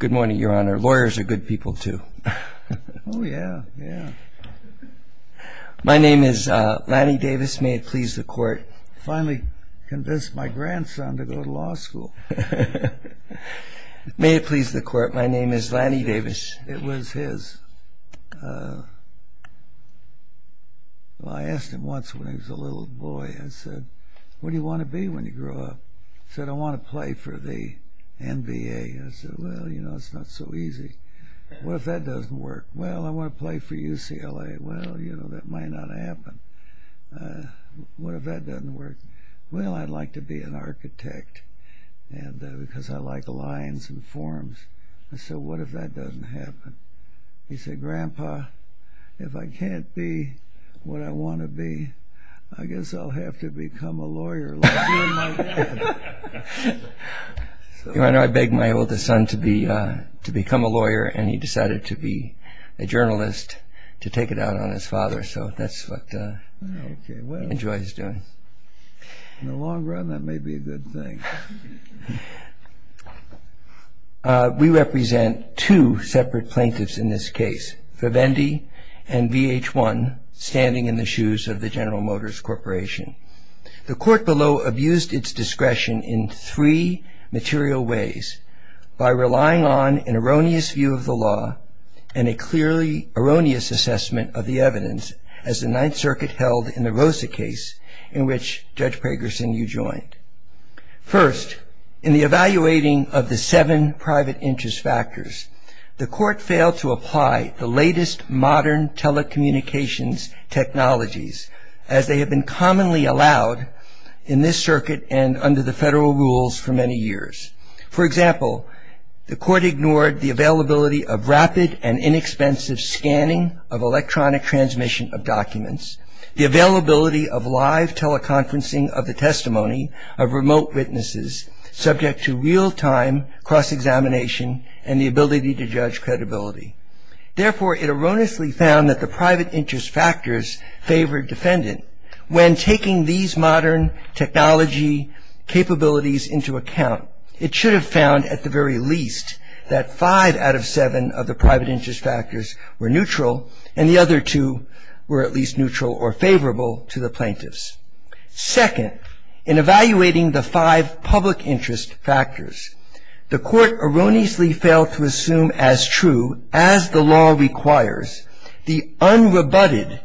Good morning, Your Honor. Lawyers are good people, too. Oh, yeah. Yeah. My name is Lanny Davis. May it please the Court. I finally convinced my grandson to go to law school. May it please the Court. My name is Lanny Davis. It was his. Well, I asked him once when he was a little boy. I said, what do you want to be when you grow up? He said, I want to play for the NBA. I said, well, you know, it's not so easy. What if that doesn't work? Well, I want to play for UCLA. Well, you know, that might not happen. What if that doesn't work? Well, I'd like to be an architect because I like lines and forms. I said, what if that doesn't happen? He said, Grandpa, if I can't be what I want to be, I guess I'll have to become a lawyer like you and my wife. Your Honor, I begged my oldest son to become a lawyer, and he decided to be a journalist to take it out on his father. So that's what he enjoys doing. In the long run, that may be a good thing. We represent two separate plaintiffs in this case, Vivendi and VH1, standing in the shoes of the General Motors Corporation. The court below abused its discretion in three material ways by relying on an erroneous view of the law and a clearly erroneous assessment of the evidence as the Ninth Circuit held in the Rosa case, in which Judge Pragerson, you joined. First, in the evaluating of the seven private interest factors, the court failed to apply the latest modern telecommunications technologies as they have been commonly allowed in this circuit and under the federal rules for many years. For example, the court ignored the availability of rapid and inexpensive scanning of electronic transmission of documents, the availability of live teleconferencing of the testimony of remote witnesses subject to real-time cross-examination and the ability to judge credibility. Therefore, it erroneously found that the private interest factors favored defendant. When taking these modern technology capabilities into account, it should have found, at the very least, that five out of seven of the private interest factors were neutral and the other two were at least neutral or favorable to the plaintiffs. Second, in evaluating the five public interest factors, the court erroneously failed to assume as true, as the law requires, the unrebutted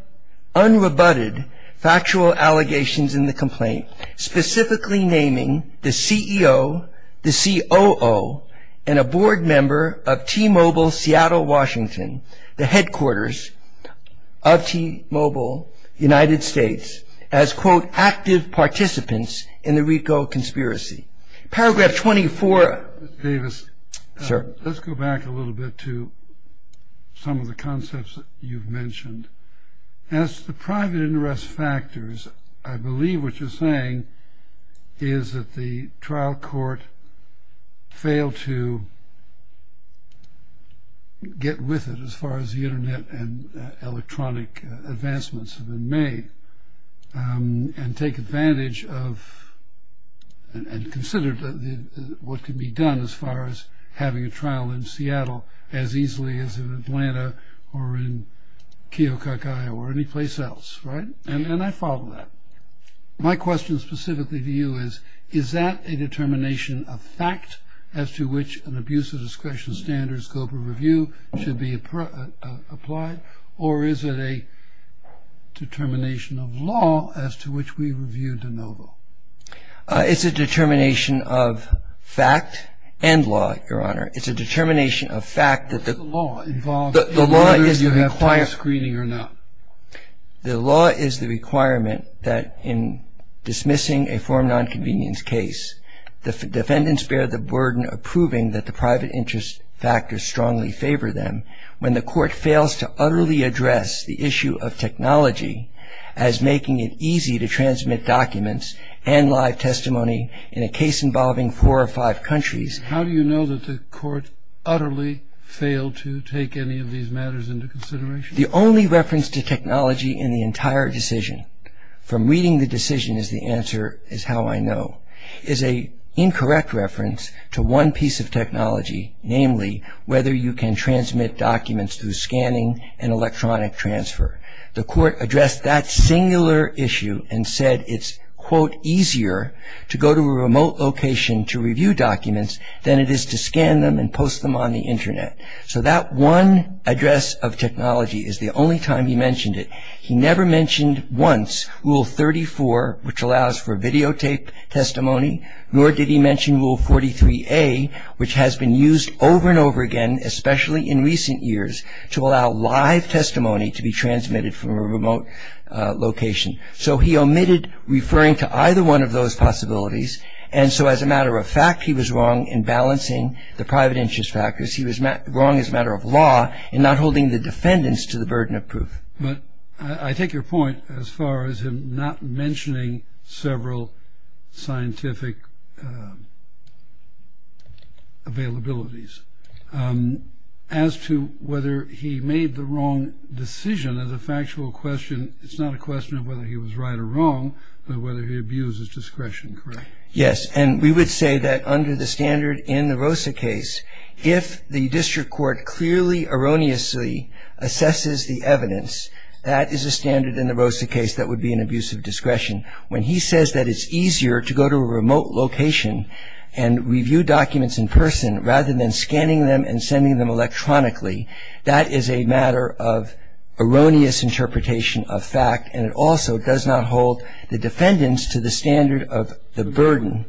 factual allegations in the complaint, specifically naming the CEO, the COO, and a board member of T-Mobile Seattle, Washington, the headquarters of T-Mobile United States, as, quote, active participants in the RICO conspiracy. Paragraph 24. Mr. Davis. Sir. Let's go back a little bit to some of the concepts that you've mentioned. is that the trial court failed to get with it as far as the internet and electronic advancements have been made and take advantage of and consider what can be done as far as having a trial in Seattle as easily as in Atlanta or in Keokuk-i or any place else, right? And I follow that. My question specifically to you is, is that a determination of fact as to which an abuse of discretion standards scope of review should be applied or is it a determination of law as to which we review de novo? It's a determination of fact and law, Your Honor. It's a determination of fact that the law is the requirement. Whether you have time screening or not. The law is the requirement that in dismissing a form nonconvenience case, the defendants bear the burden of proving that the private interest factors strongly favor them when the court fails to utterly address the issue of technology as making it easy to transmit documents and live testimony in a case involving four or five countries. How do you know that the court utterly failed to take any of these matters into consideration? The only reference to technology in the entire decision, from reading the decision is the answer is how I know, is a incorrect reference to one piece of technology, namely whether you can transmit documents through scanning and electronic transfer. The court addressed that singular issue and said it's, quote, easier to go to a remote location to review documents than it is to scan them and post them on the Internet. So that one address of technology is the only time he mentioned it. He never mentioned once Rule 34, which allows for videotape testimony, nor did he mention Rule 43A, which has been used over and over again, especially in recent years, to allow live testimony to be transmitted from a remote location. So he omitted referring to either one of those possibilities. And so as a matter of fact, he was wrong in balancing the private interest factors. He was wrong as a matter of law in not holding the defendants to the burden of proof. But I take your point as far as him not mentioning several scientific availabilities. As to whether he made the wrong decision as a factual question, it's not a question of whether he was right or wrong, but whether he abused his discretion, correct? Yes, and we would say that under the standard in the Rosa case, if the district court clearly erroneously assesses the evidence, that is a standard in the Rosa case that would be an abuse of discretion. When he says that it's easier to go to a remote location and review documents in person rather than scanning them and sending them electronically, that is a matter of erroneous interpretation of fact, and it also does not hold the defendants to the standard of the burden.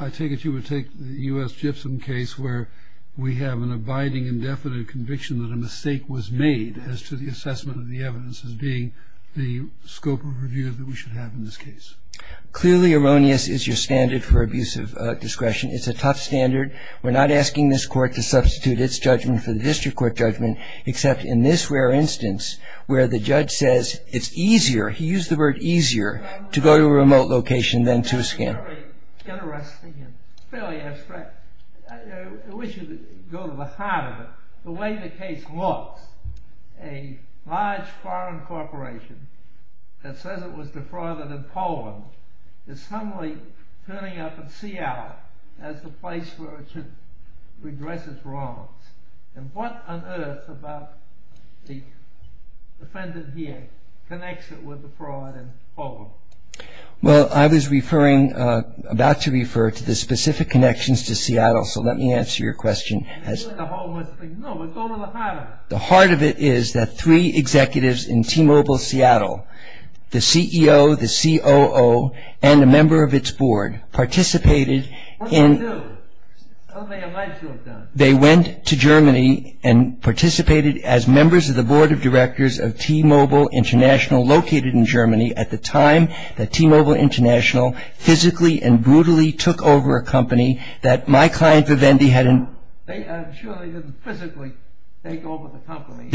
I take it you would take the U.S. Gibson case where we have an abiding indefinite conviction that a mistake was made as to the assessment of the evidence as being the scope of review that we should have in this case. Clearly erroneous is your standard for abuse of discretion. It's a tough standard. We're not asking this court to substitute its judgment for the district court judgment, except in this rare instance where the judge says it's easier, he used the word easier, to go to a remote location than to scan. It's very interesting and fairly abstract. I wish you could go to the heart of it. The way the case looks, a large foreign corporation that says it was defrauded in Poland is suddenly turning up in Seattle as the place where it should redress its wrongs. And what on earth about the defendant here connects it with the fraud in Poland? Well, I was about to refer to the specific connections to Seattle, so let me answer your question. No, but go to the heart of it. The heart of it is that three executives in T-Mobile Seattle, the CEO, the COO, and a member of its board, participated in... What did they do? They went to Germany and participated as members of the board of directors of T-Mobile International, located in Germany, at the time that T-Mobile International physically and brutally took over a company that my client Vivendi had... I'm sure they didn't physically take over the company.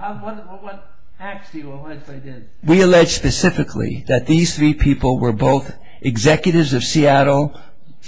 What facts do you allege they did? We allege specifically that these three people were both executives of Seattle,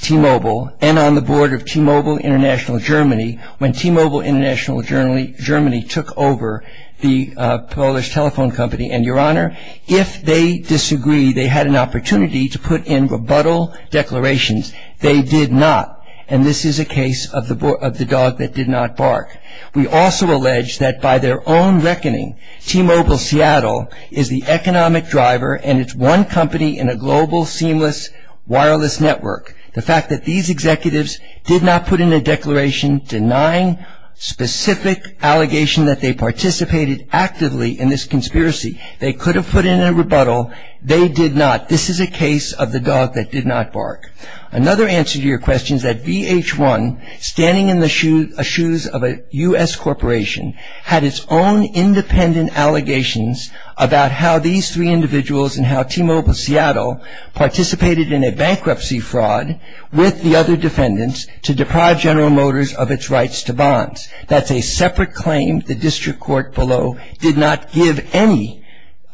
T-Mobile, and on the board of T-Mobile International Germany when T-Mobile International Germany took over the Polish telephone company. And, Your Honor, if they disagree, they had an opportunity to put in rebuttal declarations. They did not, and this is a case of the dog that did not bark. We also allege that by their own reckoning, T-Mobile Seattle is the economic driver and it's one company in a global seamless wireless network. The fact that these executives did not put in a declaration denying specific allegation that they participated actively in this conspiracy. They could have put in a rebuttal. They did not. This is a case of the dog that did not bark. Another answer to your question is that VH1, standing in the shoes of a U.S. corporation, had its own independent allegations about how these three individuals and how T-Mobile Seattle participated in a bankruptcy fraud with the other defendants to deprive General Motors of its rights to bonds. That's a separate claim. The district court below did not give any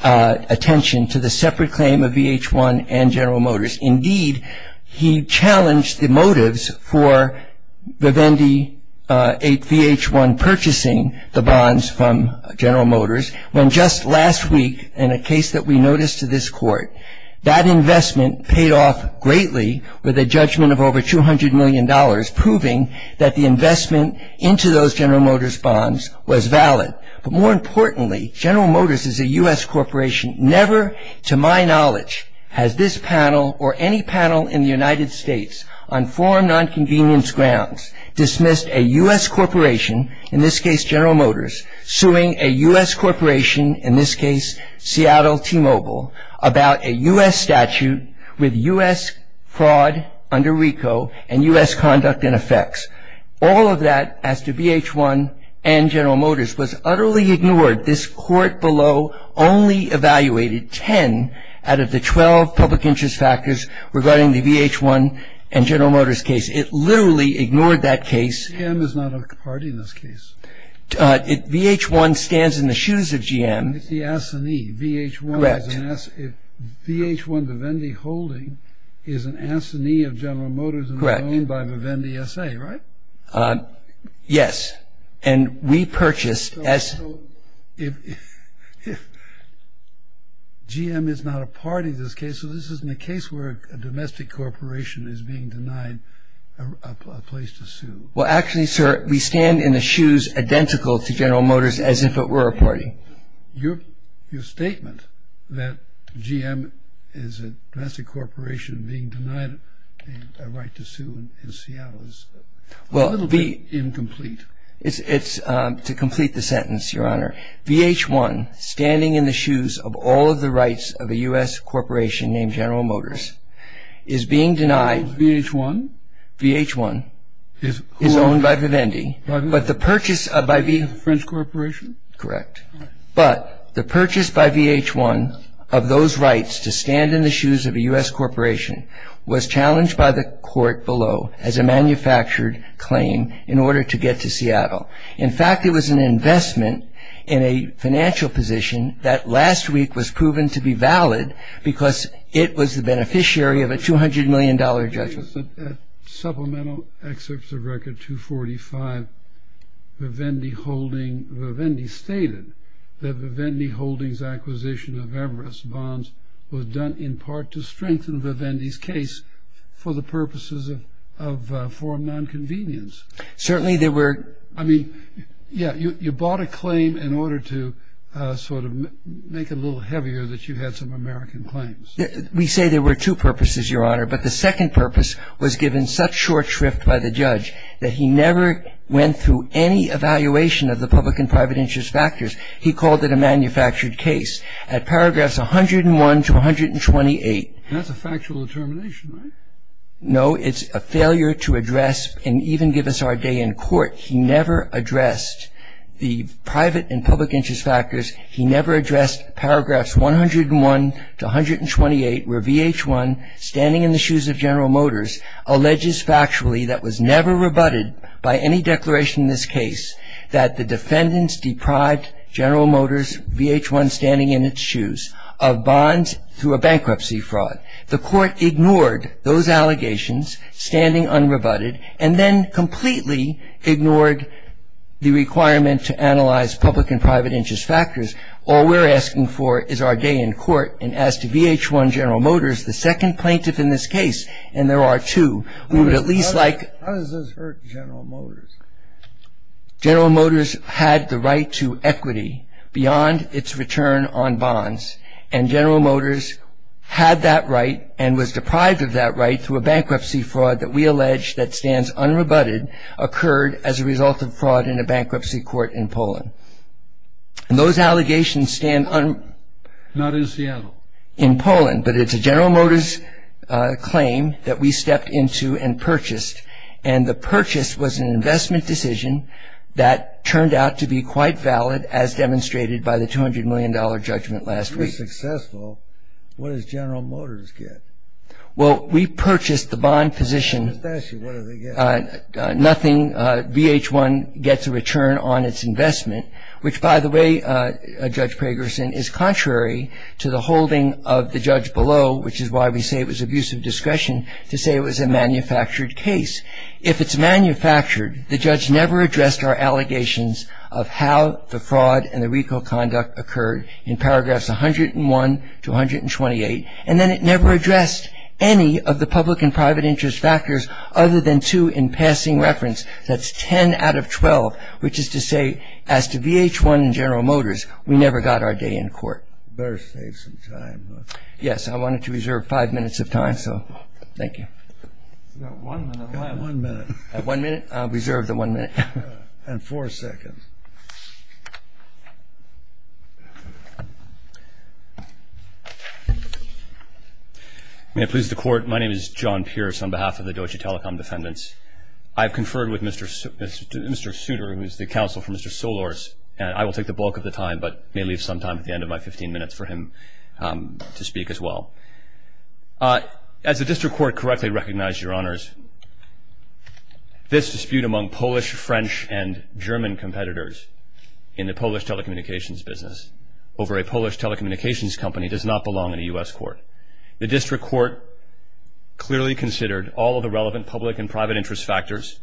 attention to the separate claim of VH1 and General Motors. Indeed, he challenged the motives for VH1 purchasing the bonds from General Motors when just last week in a case that we noticed to this court, that investment paid off greatly with a judgment of over $200 million, proving that the investment into those General Motors bonds was valid. But more importantly, General Motors is a U.S. corporation. Never to my knowledge has this panel or any panel in the United States on foreign nonconvenience grounds dismissed a U.S. corporation, in this case General Motors, suing a U.S. corporation, in this case Seattle T-Mobile, about a U.S. statute with U.S. fraud under RICO and U.S. conduct and effects. All of that as to VH1 and General Motors was utterly ignored. This court below only evaluated 10 out of the 12 public interest factors regarding the VH1 and General Motors case. It literally ignored that case. GM is not a party in this case. VH1 stands in the shoes of GM. It's the assignee. Correct. VH1 Vivendi Holding is an assignee of General Motors and owned by Vivendi S.A., right? Yes. GM is not a party in this case. So this isn't a case where a domestic corporation is being denied a place to sue. Well, actually, sir, we stand in the shoes identical to General Motors as if it were a party. Your statement that GM is a domestic corporation being denied a right to sue in Seattle is a little bit incomplete. It's to complete the sentence, Your Honor. VH1, standing in the shoes of all of the rights of a U.S. corporation named General Motors, is being denied. VH1? VH1 is owned by Vivendi. Pardon? But the purchase by the French corporation? Correct. But the purchase by VH1 of those rights to stand in the shoes of a U.S. corporation was challenged by the court below as a manufactured claim in order to get to Seattle. In fact, it was an investment in a financial position that last week was proven to be valid because it was the beneficiary of a $200 million judgment. Supplemental excerpts of Record 245, Vivendi holding, Vivendi stated that Vivendi Holdings' acquisition of Everest Bonds was done in part to strengthen Vivendi's case for the purposes of forum nonconvenience. Certainly there were. I mean, yeah, you bought a claim in order to sort of make it a little heavier that you had some American claims. We say there were two purposes, Your Honor. But the second purpose was given such short shrift by the judge that he never went through any evaluation of the public and private interest factors. He called it a manufactured case. At paragraphs 101 to 128. That's a factual determination, right? No. It's a failure to address and even give us our day in court. He never addressed the private and public interest factors. He never addressed paragraphs 101 to 128 where V.H.1, standing in the shoes of General Motors, alleges factually that was never rebutted by any declaration in this case that the defendants deprived General Motors, V.H.1 standing in its shoes, of bonds through a bankruptcy fraud. The court ignored those allegations, standing unrebutted, and then completely ignored the requirement to analyze public and private interest factors. All we're asking for is our day in court. And as to V.H.1 General Motors, the second plaintiff in this case, and there are two, we would at least like. How does this hurt General Motors? General Motors had the right to equity beyond its return on bonds. And General Motors had that right and was deprived of that right through a bankruptcy fraud that we allege that stands unrebutted, occurred as a result of fraud in a bankruptcy court in Poland. And those allegations stand un- Not in Seattle. In Poland, but it's a General Motors claim that we stepped into and purchased. And the purchase was an investment decision that turned out to be quite valid, as demonstrated by the $200 million judgment last week. If you're successful, what does General Motors get? Well, we purchased the bond position. Let me just ask you, what do they get? Nothing. V.H.1 gets a return on its investment, which, by the way, Judge Pragerson, is contrary to the holding of the judge below, which is why we say it was abusive discretion to say it was a manufactured case. If it's manufactured, the judge never addressed our allegations of how the fraud occurred in paragraphs 101 to 128, and then it never addressed any of the public and private interest factors other than two in passing reference. That's 10 out of 12, which is to say, as to V.H.1 and General Motors, we never got our day in court. Better save some time. Yes, I wanted to reserve five minutes of time, so thank you. You've got one minute left. One minute. One minute? Reserve the one minute. And four seconds. May it please the Court, my name is John Pierce on behalf of the Doji Telecom Defendants. I have conferred with Mr. Souter, who is the counsel for Mr. Solorz, and I will take the bulk of the time, but may leave some time at the end of my 15 minutes for him to speak as well. As the District Court correctly recognized, Your Honors, this dispute among Polish, French, and German competitors in the Polish telecommunications business over a Polish telecommunications company does not belong in a U.S. court. The District Court clearly considered all of the relevant public and private interest factors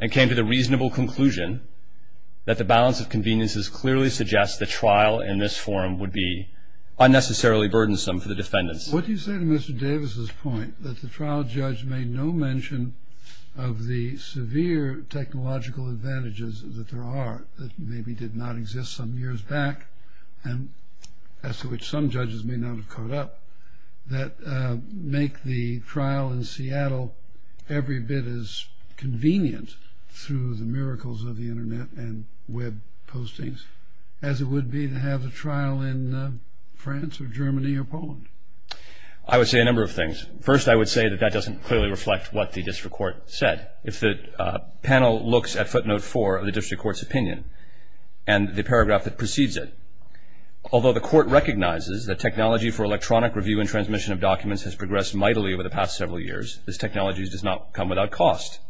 and came to the reasonable conclusion that the balance of conveniences clearly suggests the trial in this form would be unnecessarily burdensome for the defendants. What do you say to Mr. Davis's point that the trial judge made no mention of the severe technological advantages that there are that maybe did not exist some years back, and as to which some judges may not have caught up, that make the trial in Seattle every bit as convenient through the miracles of the Internet and web postings as it would be to have a trial in France or Germany or Poland? I would say a number of things. First, I would say that that doesn't clearly reflect what the District Court said. If the panel looks at footnote 4 of the District Court's opinion and the paragraph that precedes it, although the Court recognizes that technology for electronic review and transmission of documents has progressed mightily over the past several years, this technology does not come without cost.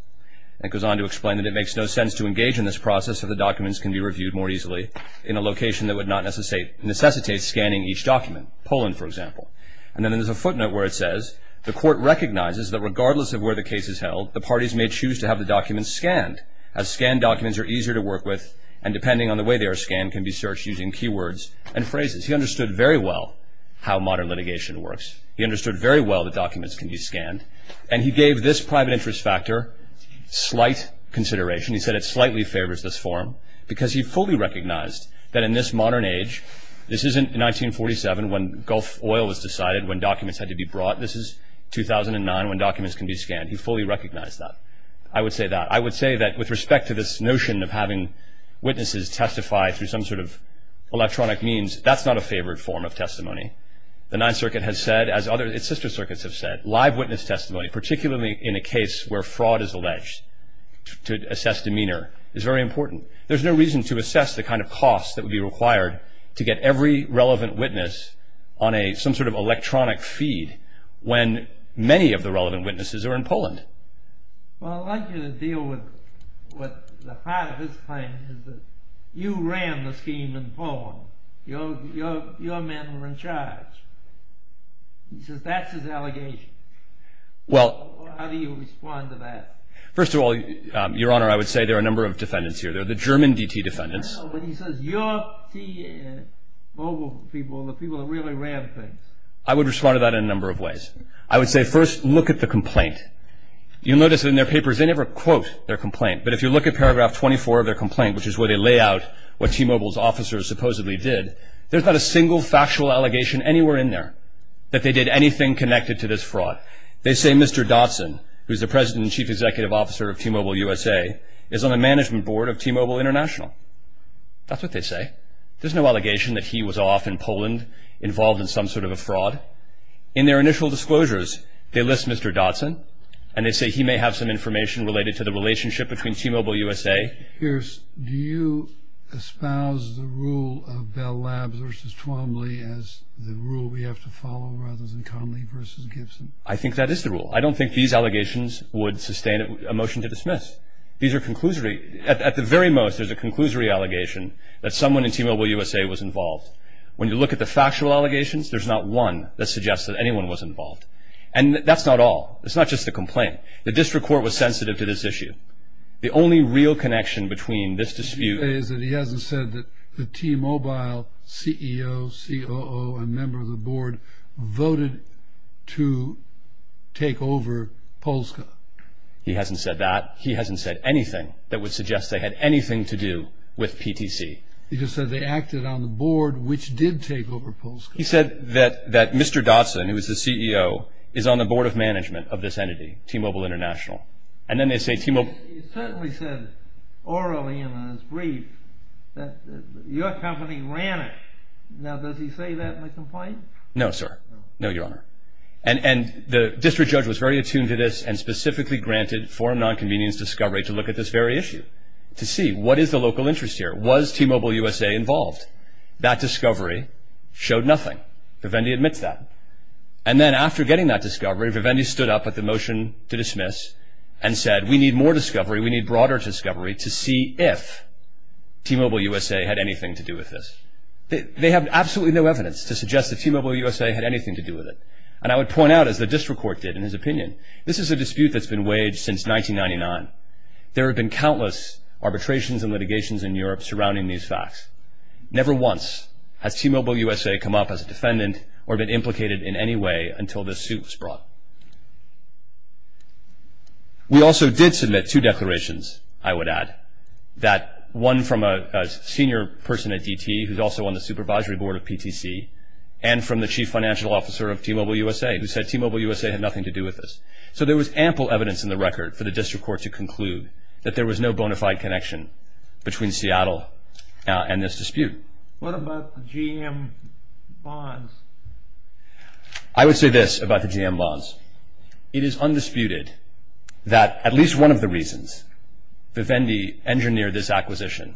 It goes on to explain that it makes no sense to engage in this process if the documents can be reviewed more easily in a location that would not necessitate scanning each document, Poland, for example. And then there's a footnote where it says, the Court recognizes that regardless of where the case is held, the parties may choose to have the documents scanned, as scanned documents are easier to work with and depending on the way they are scanned can be searched using keywords and phrases. He understood very well how modern litigation works. He understood very well that documents can be scanned, and he gave this private interest factor slight consideration. He said it slightly favors this form because he fully recognized that in this modern age, this isn't 1947 when Gulf oil was decided, when documents had to be brought, this is 2009 when documents can be scanned. He fully recognized that. I would say that. I would say that with respect to this notion of having witnesses testify through some sort of electronic means, that's not a favored form of testimony. The Ninth Circuit has said, as other sister circuits have said, live witness testimony, particularly in a case where fraud is alleged, to assess demeanor, is very important. There's no reason to assess the kind of cost that would be required to get every relevant witness on some sort of electronic feed when many of the relevant witnesses are in Poland. Well, I'd like you to deal with the part of his claim that you ran the scheme in Poland. Your men were in charge. He says that's his allegation. How do you respond to that? First of all, Your Honor, I would say there are a number of defendants here. There are the German DT defendants. I know, but he says your T-Mobile people are the people that really ran things. I would respond to that in a number of ways. I would say, first, look at the complaint. You'll notice in their papers they never quote their complaint, but if you look at paragraph 24 of their complaint, which is where they lay out what T-Mobile's officers supposedly did, there's not a single factual allegation anywhere in there that they did anything connected to this fraud. They say Mr. Dotson, who's the president and chief executive officer of T-Mobile USA, is on the management board of T-Mobile International. That's what they say. There's no allegation that he was off in Poland involved in some sort of a fraud. In their initial disclosures, they list Mr. Dotson, and they say he may have some information related to the relationship between T-Mobile USA. Pierce, do you espouse the rule of Bell Labs versus Twombly as the rule we have to follow rather than Conley versus Gibson? I think that is the rule. I don't think these allegations would sustain a motion to dismiss. These are conclusory. At the very most, there's a conclusory allegation that someone in T-Mobile USA was involved. When you look at the factual allegations, there's not one that suggests that anyone was involved. And that's not all. It's not just the complaint. The district court was sensitive to this issue. The only real connection between this dispute is that he hasn't said that the T-Mobile CEO, COO, and member of the board voted to take over Polska. He hasn't said that. He hasn't said anything that would suggest they had anything to do with PTC. He just said they acted on the board, which did take over Polska. He said that Mr. Dotson, who is the CEO, is on the board of management of this entity, T-Mobile International. And then they say T-Mobile... He certainly said orally in his brief that your company ran it. Now, does he say that in the complaint? No, sir. No, Your Honor. And the district judge was very attuned to this and specifically granted foreign non-convenience discovery to look at this very issue to see what is the local interest here. Was T-Mobile USA involved? That discovery showed nothing. Vivendi admits that. And then after getting that discovery, Vivendi stood up at the motion to dismiss and said, We need more discovery. We need broader discovery to see if T-Mobile USA had anything to do with this. They have absolutely no evidence to suggest that T-Mobile USA had anything to do with it. And I would point out, as the district court did in his opinion, this is a dispute that's been waged since 1999. There have been countless arbitrations and litigations in Europe surrounding these facts. Never once has T-Mobile USA come up as a defendant or been implicated in any way until this suit was brought. We also did submit two declarations, I would add, that one from a senior person at DT who's also on the supervisory board of PTC and from the chief financial officer of T-Mobile USA who said T-Mobile USA had nothing to do with this. So there was ample evidence in the record for the district court to conclude that there was no bona fide connection between Seattle and this dispute. What about the GM bonds? I would say this about the GM bonds. It is undisputed that at least one of the reasons Vivendi engineered this acquisition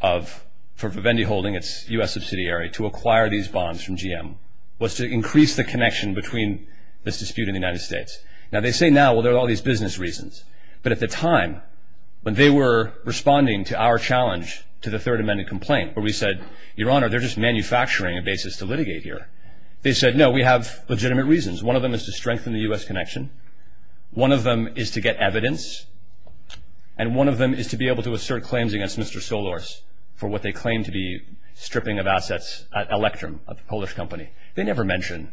for Vivendi holding its U.S. subsidiary to acquire these bonds from GM was to increase the connection between this dispute and the United States. Now, they say now, well, there are all these business reasons. But at the time, when they were responding to our challenge to the Third Amendment complaint where we said, Your Honor, they're just manufacturing a basis to litigate here, they said, no, we have legitimate reasons. One of them is to strengthen the U.S. connection. One of them is to get evidence. And one of them is to be able to assert claims against Mr. Solorz for what they claim to be stripping of assets at Electrum, a Polish company. They never mention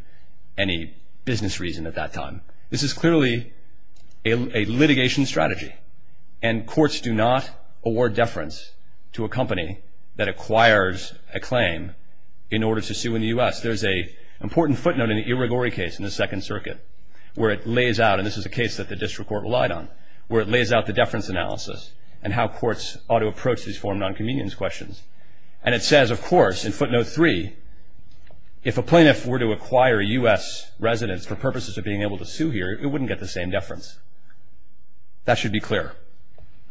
any business reason at that time. This is clearly a litigation strategy. And courts do not award deference to a company that acquires a claim in order to sue in the U.S. There's an important footnote in the Irigori case in the Second Circuit where it lays out, and this is a case that the district court relied on, where it lays out the deference analysis and how courts ought to approach these form of nonconvenience questions. And it says, of course, in footnote three, if a plaintiff were to acquire U.S. residents for purposes of being able to sue here, it wouldn't get the same deference. That should be clear.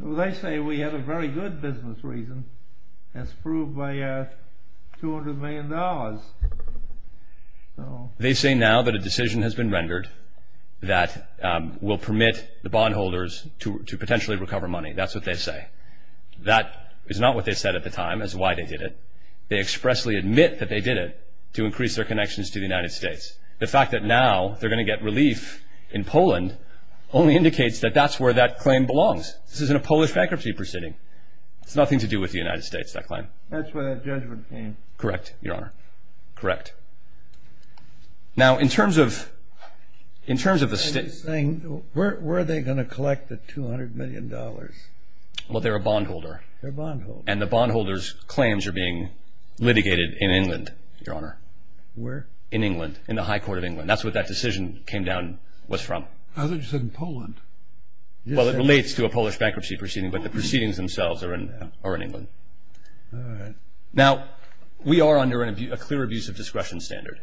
They say we have a very good business reason, as proved by $200 million. They say now that a decision has been rendered that will permit the bondholders to potentially recover money. That's what they say. That is not what they said at the time. That's why they did it. They expressly admit that they did it to increase their connections to the United States. The fact that now they're going to get relief in Poland only indicates that that's where that claim belongs. This isn't a Polish bankruptcy proceeding. It's nothing to do with the United States, that claim. That's where that judgment came. Correct, Your Honor. Correct. Now, in terms of the state... Where are they going to collect the $200 million? Well, they're a bondholder. They're a bondholder. And the bondholder's claims are being litigated in England, Your Honor. Where? In England, in the High Court of England. That's where that decision came down, was from. I thought you said in Poland. Well, it relates to a Polish bankruptcy proceeding, but the proceedings themselves are in England. All right. Now, we are under a clear abuse of discretion standard.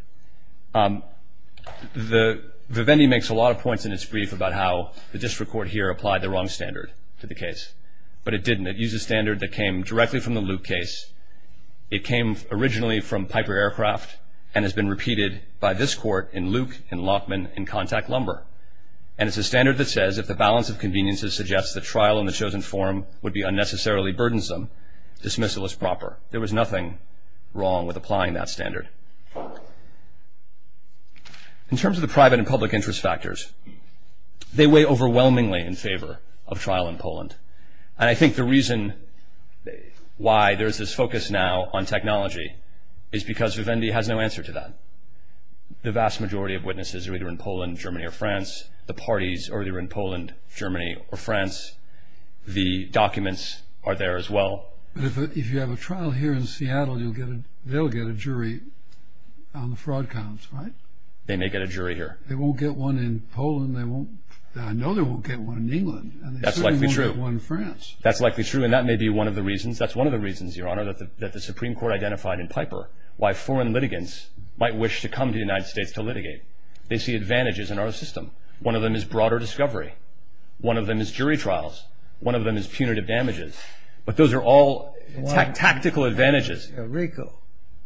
Vivendi makes a lot of points in its brief about how the district court here applied the wrong standard to the case. But it didn't. It used a standard that came directly from the Luke case. It came originally from Piper Aircraft and has been repeated by this court in Luke, in Lachman, in Contact Lumber. And it's a standard that says if the balance of conveniences suggests that trial in the chosen form would be unnecessarily burdensome, dismissal is proper. There was nothing wrong with applying that standard. In terms of the private and public interest factors, they weigh overwhelmingly in favor of trial in Poland. And I think the reason why there's this focus now on technology is because Vivendi has no answer to that. The vast majority of witnesses are either in Poland, Germany, or France. The parties are either in Poland, Germany, or France. The documents are there as well. But if you have a trial here in Seattle, they'll get a jury on the fraud counts, right? They may get a jury here. They won't get one in Poland. I know they won't get one in England. That's likely true. And they certainly won't get one in France. That's likely true, and that may be one of the reasons, that's one of the reasons, Your Honor, that the Supreme Court identified in Piper why foreign litigants might wish to come to the United States to litigate. They see advantages in our system. One of them is broader discovery. One of them is jury trials. One of them is punitive damages. But those are all tactical advantages. Rico.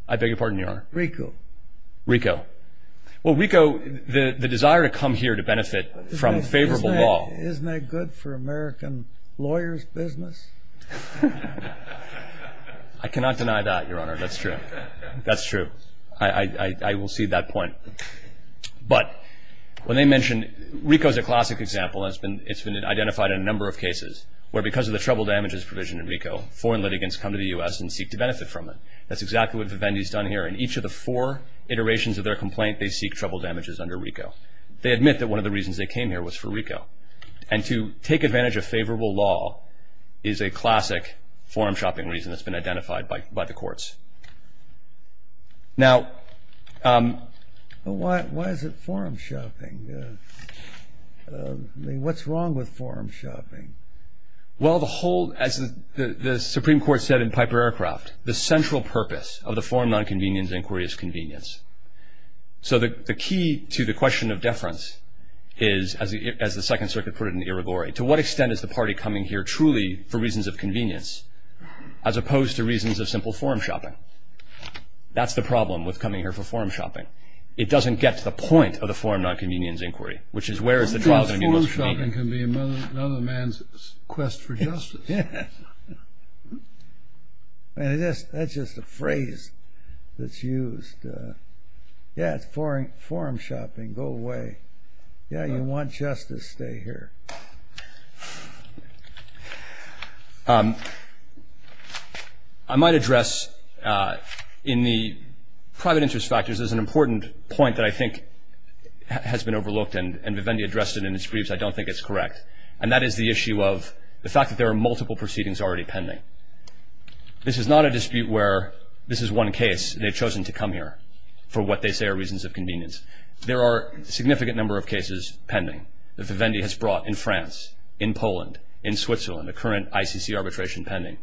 I beg your pardon, Your Honor. Rico. Rico. Well, Rico, the desire to come here to benefit from favorable law. Isn't that good for American lawyers' business? I cannot deny that, Your Honor. That's true. That's true. I will cede that point. But when they mention, Rico is a classic example. It's been identified in a number of cases where because of the trouble damages provision in Rico, foreign litigants come to the U.S. and seek to benefit from it. That's exactly what Vivendi's done here. In each of the four iterations of their complaint, they seek trouble damages under Rico. They admit that one of the reasons they came here was for Rico. And to take advantage of favorable law is a classic forum shopping reason that's been identified by the courts. Now, why is it forum shopping? I mean, what's wrong with forum shopping? Well, the whole, as the Supreme Court said in Piper Aircraft, the central purpose of the forum nonconvenience inquiry is convenience. So the key to the question of deference is, as the Second Circuit put it in the irrigory, to what extent is the party coming here truly for reasons of convenience as opposed to reasons of simple forum shopping? That's the problem with coming here for forum shopping. It doesn't get to the point of the forum nonconvenience inquiry, which is where is the trial going to be most convenient. I think forum shopping can be another man's quest for justice. Yeah. That's just a phrase that's used. Yeah, it's forum shopping. Go away. Yeah, you want justice. Stay here. I might address in the private interest factors, there's an important point that I think has been overlooked, and Vivendi addressed it in his briefs. I don't think it's correct. And that is the issue of the fact that there are multiple proceedings already pending. This is not a dispute where this is one case. They've chosen to come here for what they say are reasons of convenience. There are a significant number of cases pending that Vivendi has brought in France, in Poland, in Switzerland, the current ICC arbitration pending.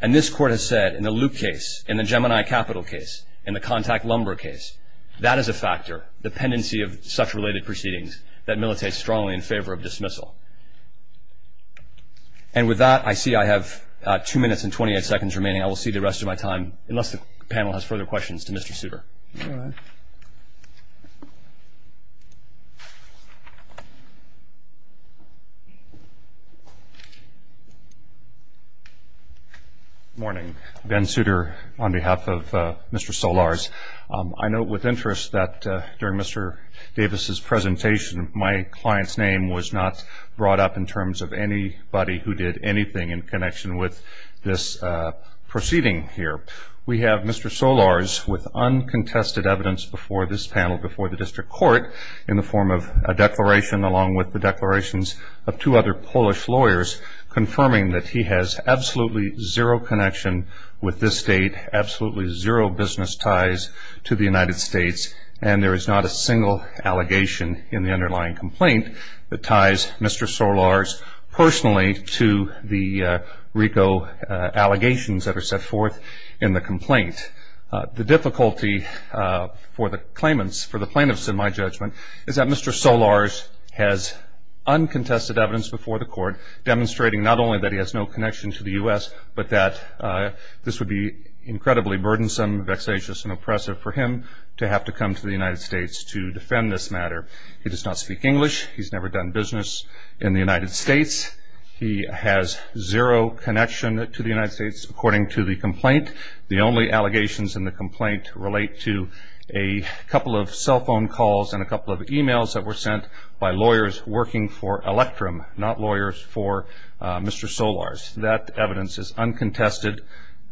And this Court has said in the Loop case, in the Gemini Capital case, in the Contact Lumber case, that is a factor, the pendency of such related proceedings, that militates strongly in favor of dismissal. And with that, I see I have two minutes and 28 seconds remaining. I will see the rest of my time, unless the panel has further questions, to Mr. Souter. Good morning. Ben Souter on behalf of Mr. Solars. I note with interest that during Mr. Davis's presentation, my client's name was not brought up in terms of anybody who did anything in connection with this proceeding here. We have Mr. Solars with uncontested evidence before this panel, before the District Court, in the form of a declaration, along with the declarations of two other Polish lawyers, that he has absolutely zero connection with this State, absolutely zero business ties to the United States, and there is not a single allegation in the underlying complaint that ties Mr. Solars personally to the RICO allegations that are set forth in the complaint. The difficulty for the claimants, for the plaintiffs, in my judgment, is that Mr. Solars has uncontested evidence before the Court, demonstrating not only that he has no connection to the U.S., but that this would be incredibly burdensome, vexatious, and oppressive for him to have to come to the United States to defend this matter. He does not speak English. He's never done business in the United States. The only allegations in the complaint relate to a couple of cell phone calls and a couple of emails that were sent by lawyers working for Electrum, not lawyers for Mr. Solars. That evidence is uncontested.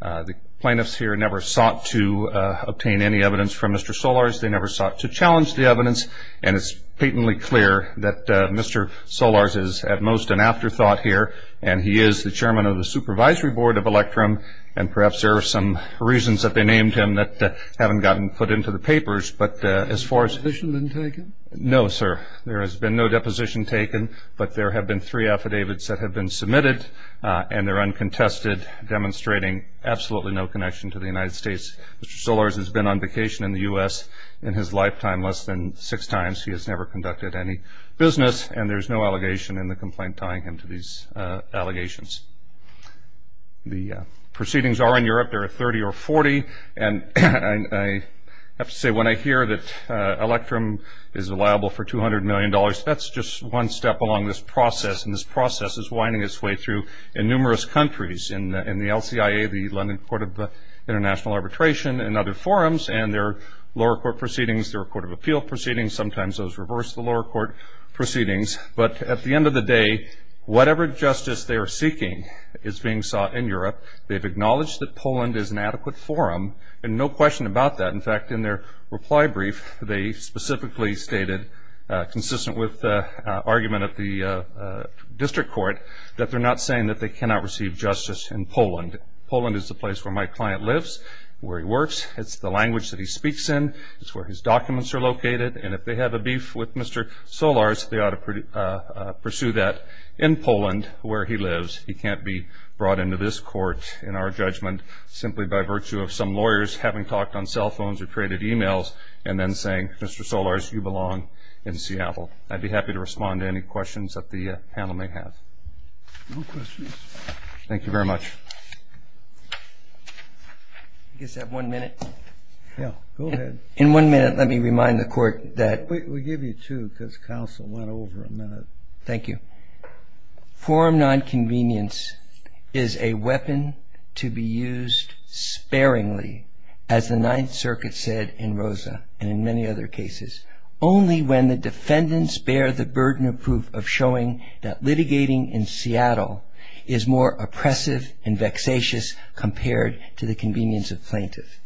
The plaintiffs here never sought to obtain any evidence from Mr. Solars. They never sought to challenge the evidence, and it's patently clear that Mr. Solars is at most an afterthought here, and he is the chairman of the supervisory board of Electrum, and perhaps there are some reasons that they named him that haven't gotten put into the papers. But as far as – Has a deposition been taken? No, sir. There has been no deposition taken, but there have been three affidavits that have been submitted, and they're uncontested, demonstrating absolutely no connection to the United States. Mr. Solars has been on vacation in the U.S. in his lifetime less than six times. He has never conducted any business, and there's no allegation in the complaint tying him to these allegations. The proceedings are in Europe. There are 30 or 40, and I have to say when I hear that Electrum is liable for $200 million, that's just one step along this process, and this process is winding its way through in numerous countries, in the LCIA, the London Court of International Arbitration, and other forums, and there are lower court proceedings. There are court of appeal proceedings. Sometimes those reverse the lower court proceedings. But at the end of the day, whatever justice they are seeking is being sought in Europe. They've acknowledged that Poland is an adequate forum, and no question about that. In fact, in their reply brief, they specifically stated, consistent with the argument of the district court, that they're not saying that they cannot receive justice in Poland. Poland is the place where my client lives, where he works. It's the language that he speaks in. It's where his documents are located, and if they have a beef with Mr. Solars, they ought to pursue that in Poland, where he lives. He can't be brought into this court, in our judgment, simply by virtue of some lawyers having talked on cell phones or created e-mails and then saying, Mr. Solars, you belong in Seattle. I'd be happy to respond to any questions that the panel may have. No questions. Thank you very much. I guess I have one minute. Yeah, go ahead. In one minute, let me remind the court that- We'll give you two, because counsel went over a minute. Thank you. Forum nonconvenience is a weapon to be used sparingly, as the Ninth Circuit said in Rosa and in many other cases, only when the defendants bear the burden of proof of showing that litigating in Seattle is more oppressive and vexatious compared to the convenience of plaintiffs.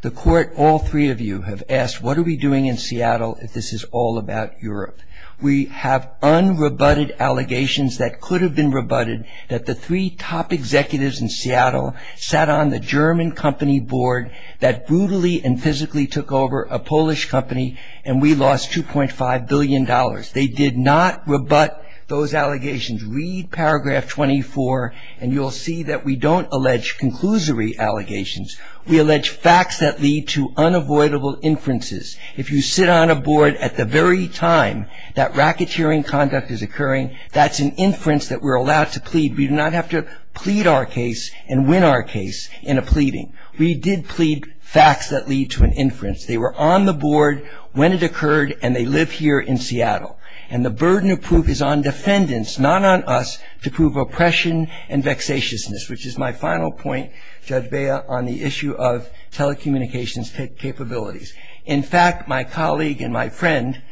The court, all three of you, have asked, what are we doing in Seattle if this is all about Europe? We have unrebutted allegations that could have been rebutted, that the three top executives in Seattle sat on the German company board that brutally and physically took over a Polish company, and we lost $2.5 billion. They did not rebut those allegations. Read paragraph 24, and you'll see that we don't allege conclusory allegations. We allege facts that lead to unavoidable inferences. If you sit on a board at the very time that racketeering conduct is occurring, that's an inference that we're allowed to plead. We do not have to plead our case and win our case in a pleading. We did plead facts that lead to an inference. They were on the board when it occurred, and they live here in Seattle. And the burden of proof is on defendants, not on us, to prove oppression and vexatiousness, which is my final point, Judge Bea, on the issue of telecommunications capabilities. In fact, my colleague and my friend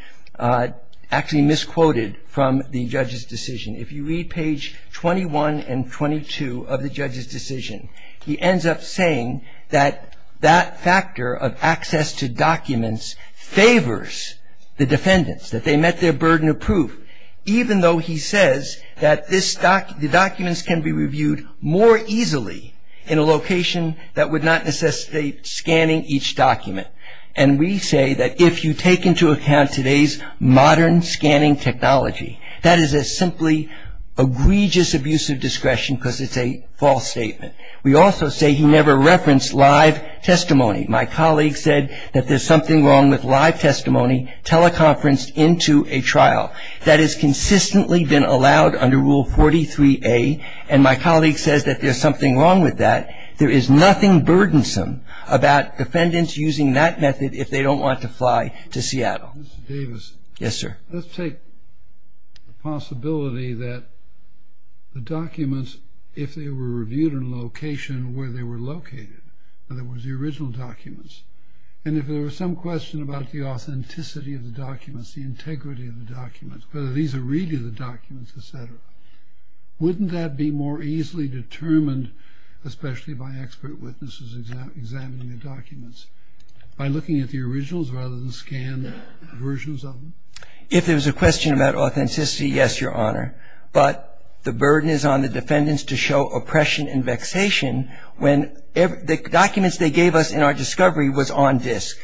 actually misquoted from the judge's decision. If you read page 21 and 22 of the judge's decision, he ends up saying that that factor of access to documents favors the defendants, that they met their burden of proof, even though he says that the documents can be reviewed more easily in a location that would not necessitate scanning each document. And we say that if you take into account today's modern scanning technology, that is a simply egregious abuse of discretion because it's a false statement. We also say he never referenced live testimony. My colleague said that there's something wrong with live testimony teleconferenced into a trial. That has consistently been allowed under Rule 43A, and my colleague says that there's something wrong with that. There is nothing burdensome about defendants using that method if they don't want to fly to Seattle. Mr. Davis. Yes, sir. Let's take the possibility that the documents, if they were reviewed in a location where they were located, in other words, the original documents, and if there was some question about the authenticity of the documents, the integrity of the documents, whether these are really the documents, et cetera, wouldn't that be more easily determined, especially by expert witnesses examining the documents, by looking at the originals rather than scanned versions of them? If there was a question about authenticity, yes, Your Honor, but the burden is on the defendants to show oppression and vexation. The documents they gave us in our discovery was on disk.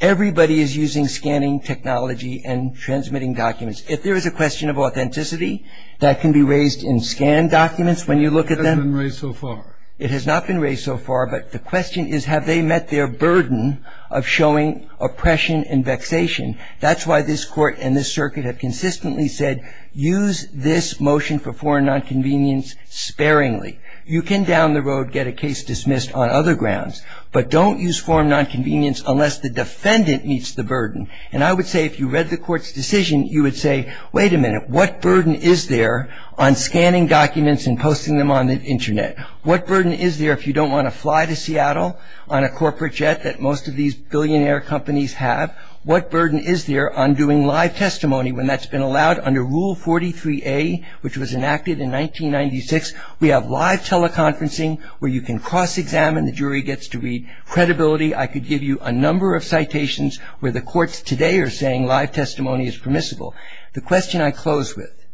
Everybody is using scanning technology and transmitting documents. If there is a question of authenticity, that can be raised in scanned documents when you look at them. It hasn't been raised so far. It has not been raised so far, but the question is, have they met their burden of showing oppression and vexation? That's why this Court and this Circuit have consistently said, use this motion for foreign nonconvenience sparingly. You can down the road get a case dismissed on other grounds, but don't use foreign nonconvenience unless the defendant meets the burden, and I would say if you read the Court's decision, you would say, wait a minute, what burden is there on scanning documents and posting them on the Internet? What burden is there if you don't want to fly to Seattle on a corporate jet that most of these billionaire companies have? What burden is there on doing live testimony when that's been allowed under Rule 43A, which was enacted in 1996? We have live teleconferencing where you can cross-examine. The jury gets to read. Credibility, I could give you a number of citations where the courts today are saying live testimony is permissible. The question I close with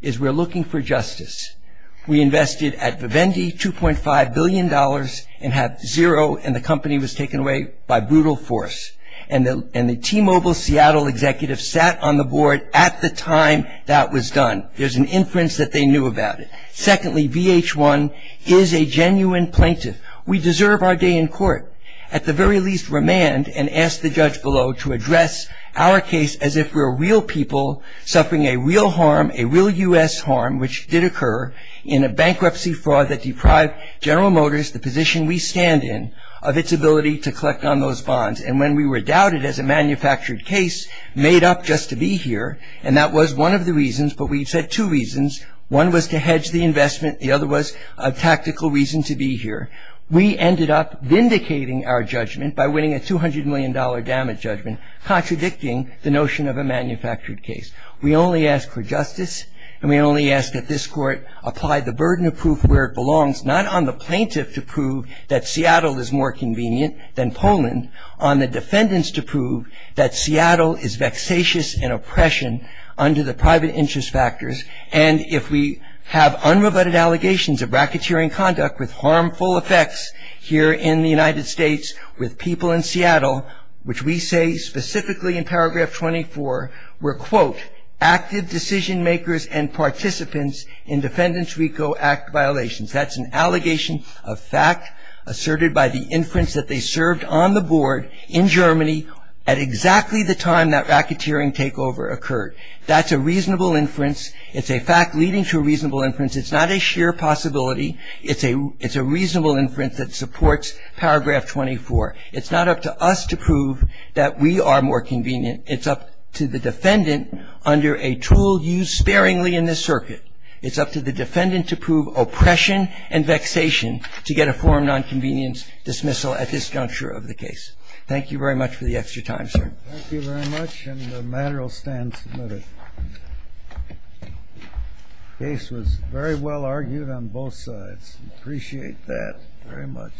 is we're looking for justice. We invested at Vivendi $2.5 billion and have zero, and the company was taken away by brutal force, and the T-Mobile Seattle executive sat on the board at the time that was done. There's an inference that they knew about it. Secondly, VH1 is a genuine plaintiff. We deserve our day in court. At the very least, remand and ask the judge below to address our case as if we're real people suffering a real harm, a real U.S. harm, which did occur in a bankruptcy fraud that deprived General Motors, the position we stand in, of its ability to collect on those bonds, and when we were doubted as a manufactured case made up just to be here, and that was one of the reasons, but we said two reasons. One was to hedge the investment. The other was a tactical reason to be here. We ended up vindicating our judgment by winning a $200 million damage judgment contradicting the notion of a manufactured case. We only ask for justice, and we only ask that this court apply the burden of proof where it belongs, not on the plaintiff to prove that Seattle is more convenient than Poland, on the defendants to prove that Seattle is vexatious in oppression under the private interest factors, and if we have unrebutted allegations of racketeering conduct with harmful effects here in the United States with people in Seattle, which we say specifically in paragraph 24 were, quote, active decision makers and participants in Defendants RICO Act violations. That's an allegation of fact asserted by the inference that they served on the board in Germany at exactly the time that racketeering takeover occurred. That's a reasonable inference. It's a fact leading to a reasonable inference. It's not a sheer possibility. It's a reasonable inference that supports paragraph 24. It's not up to us to prove that we are more convenient. It's up to the defendant under a tool used sparingly in this circuit. It's up to the defendant to prove oppression and vexation to get a foreign nonconvenience dismissal at this juncture of the case. Thank you very much for the extra time, sir. Thank you very much, and the matter will stand submitted. The case was very well argued on both sides. We appreciate that very much.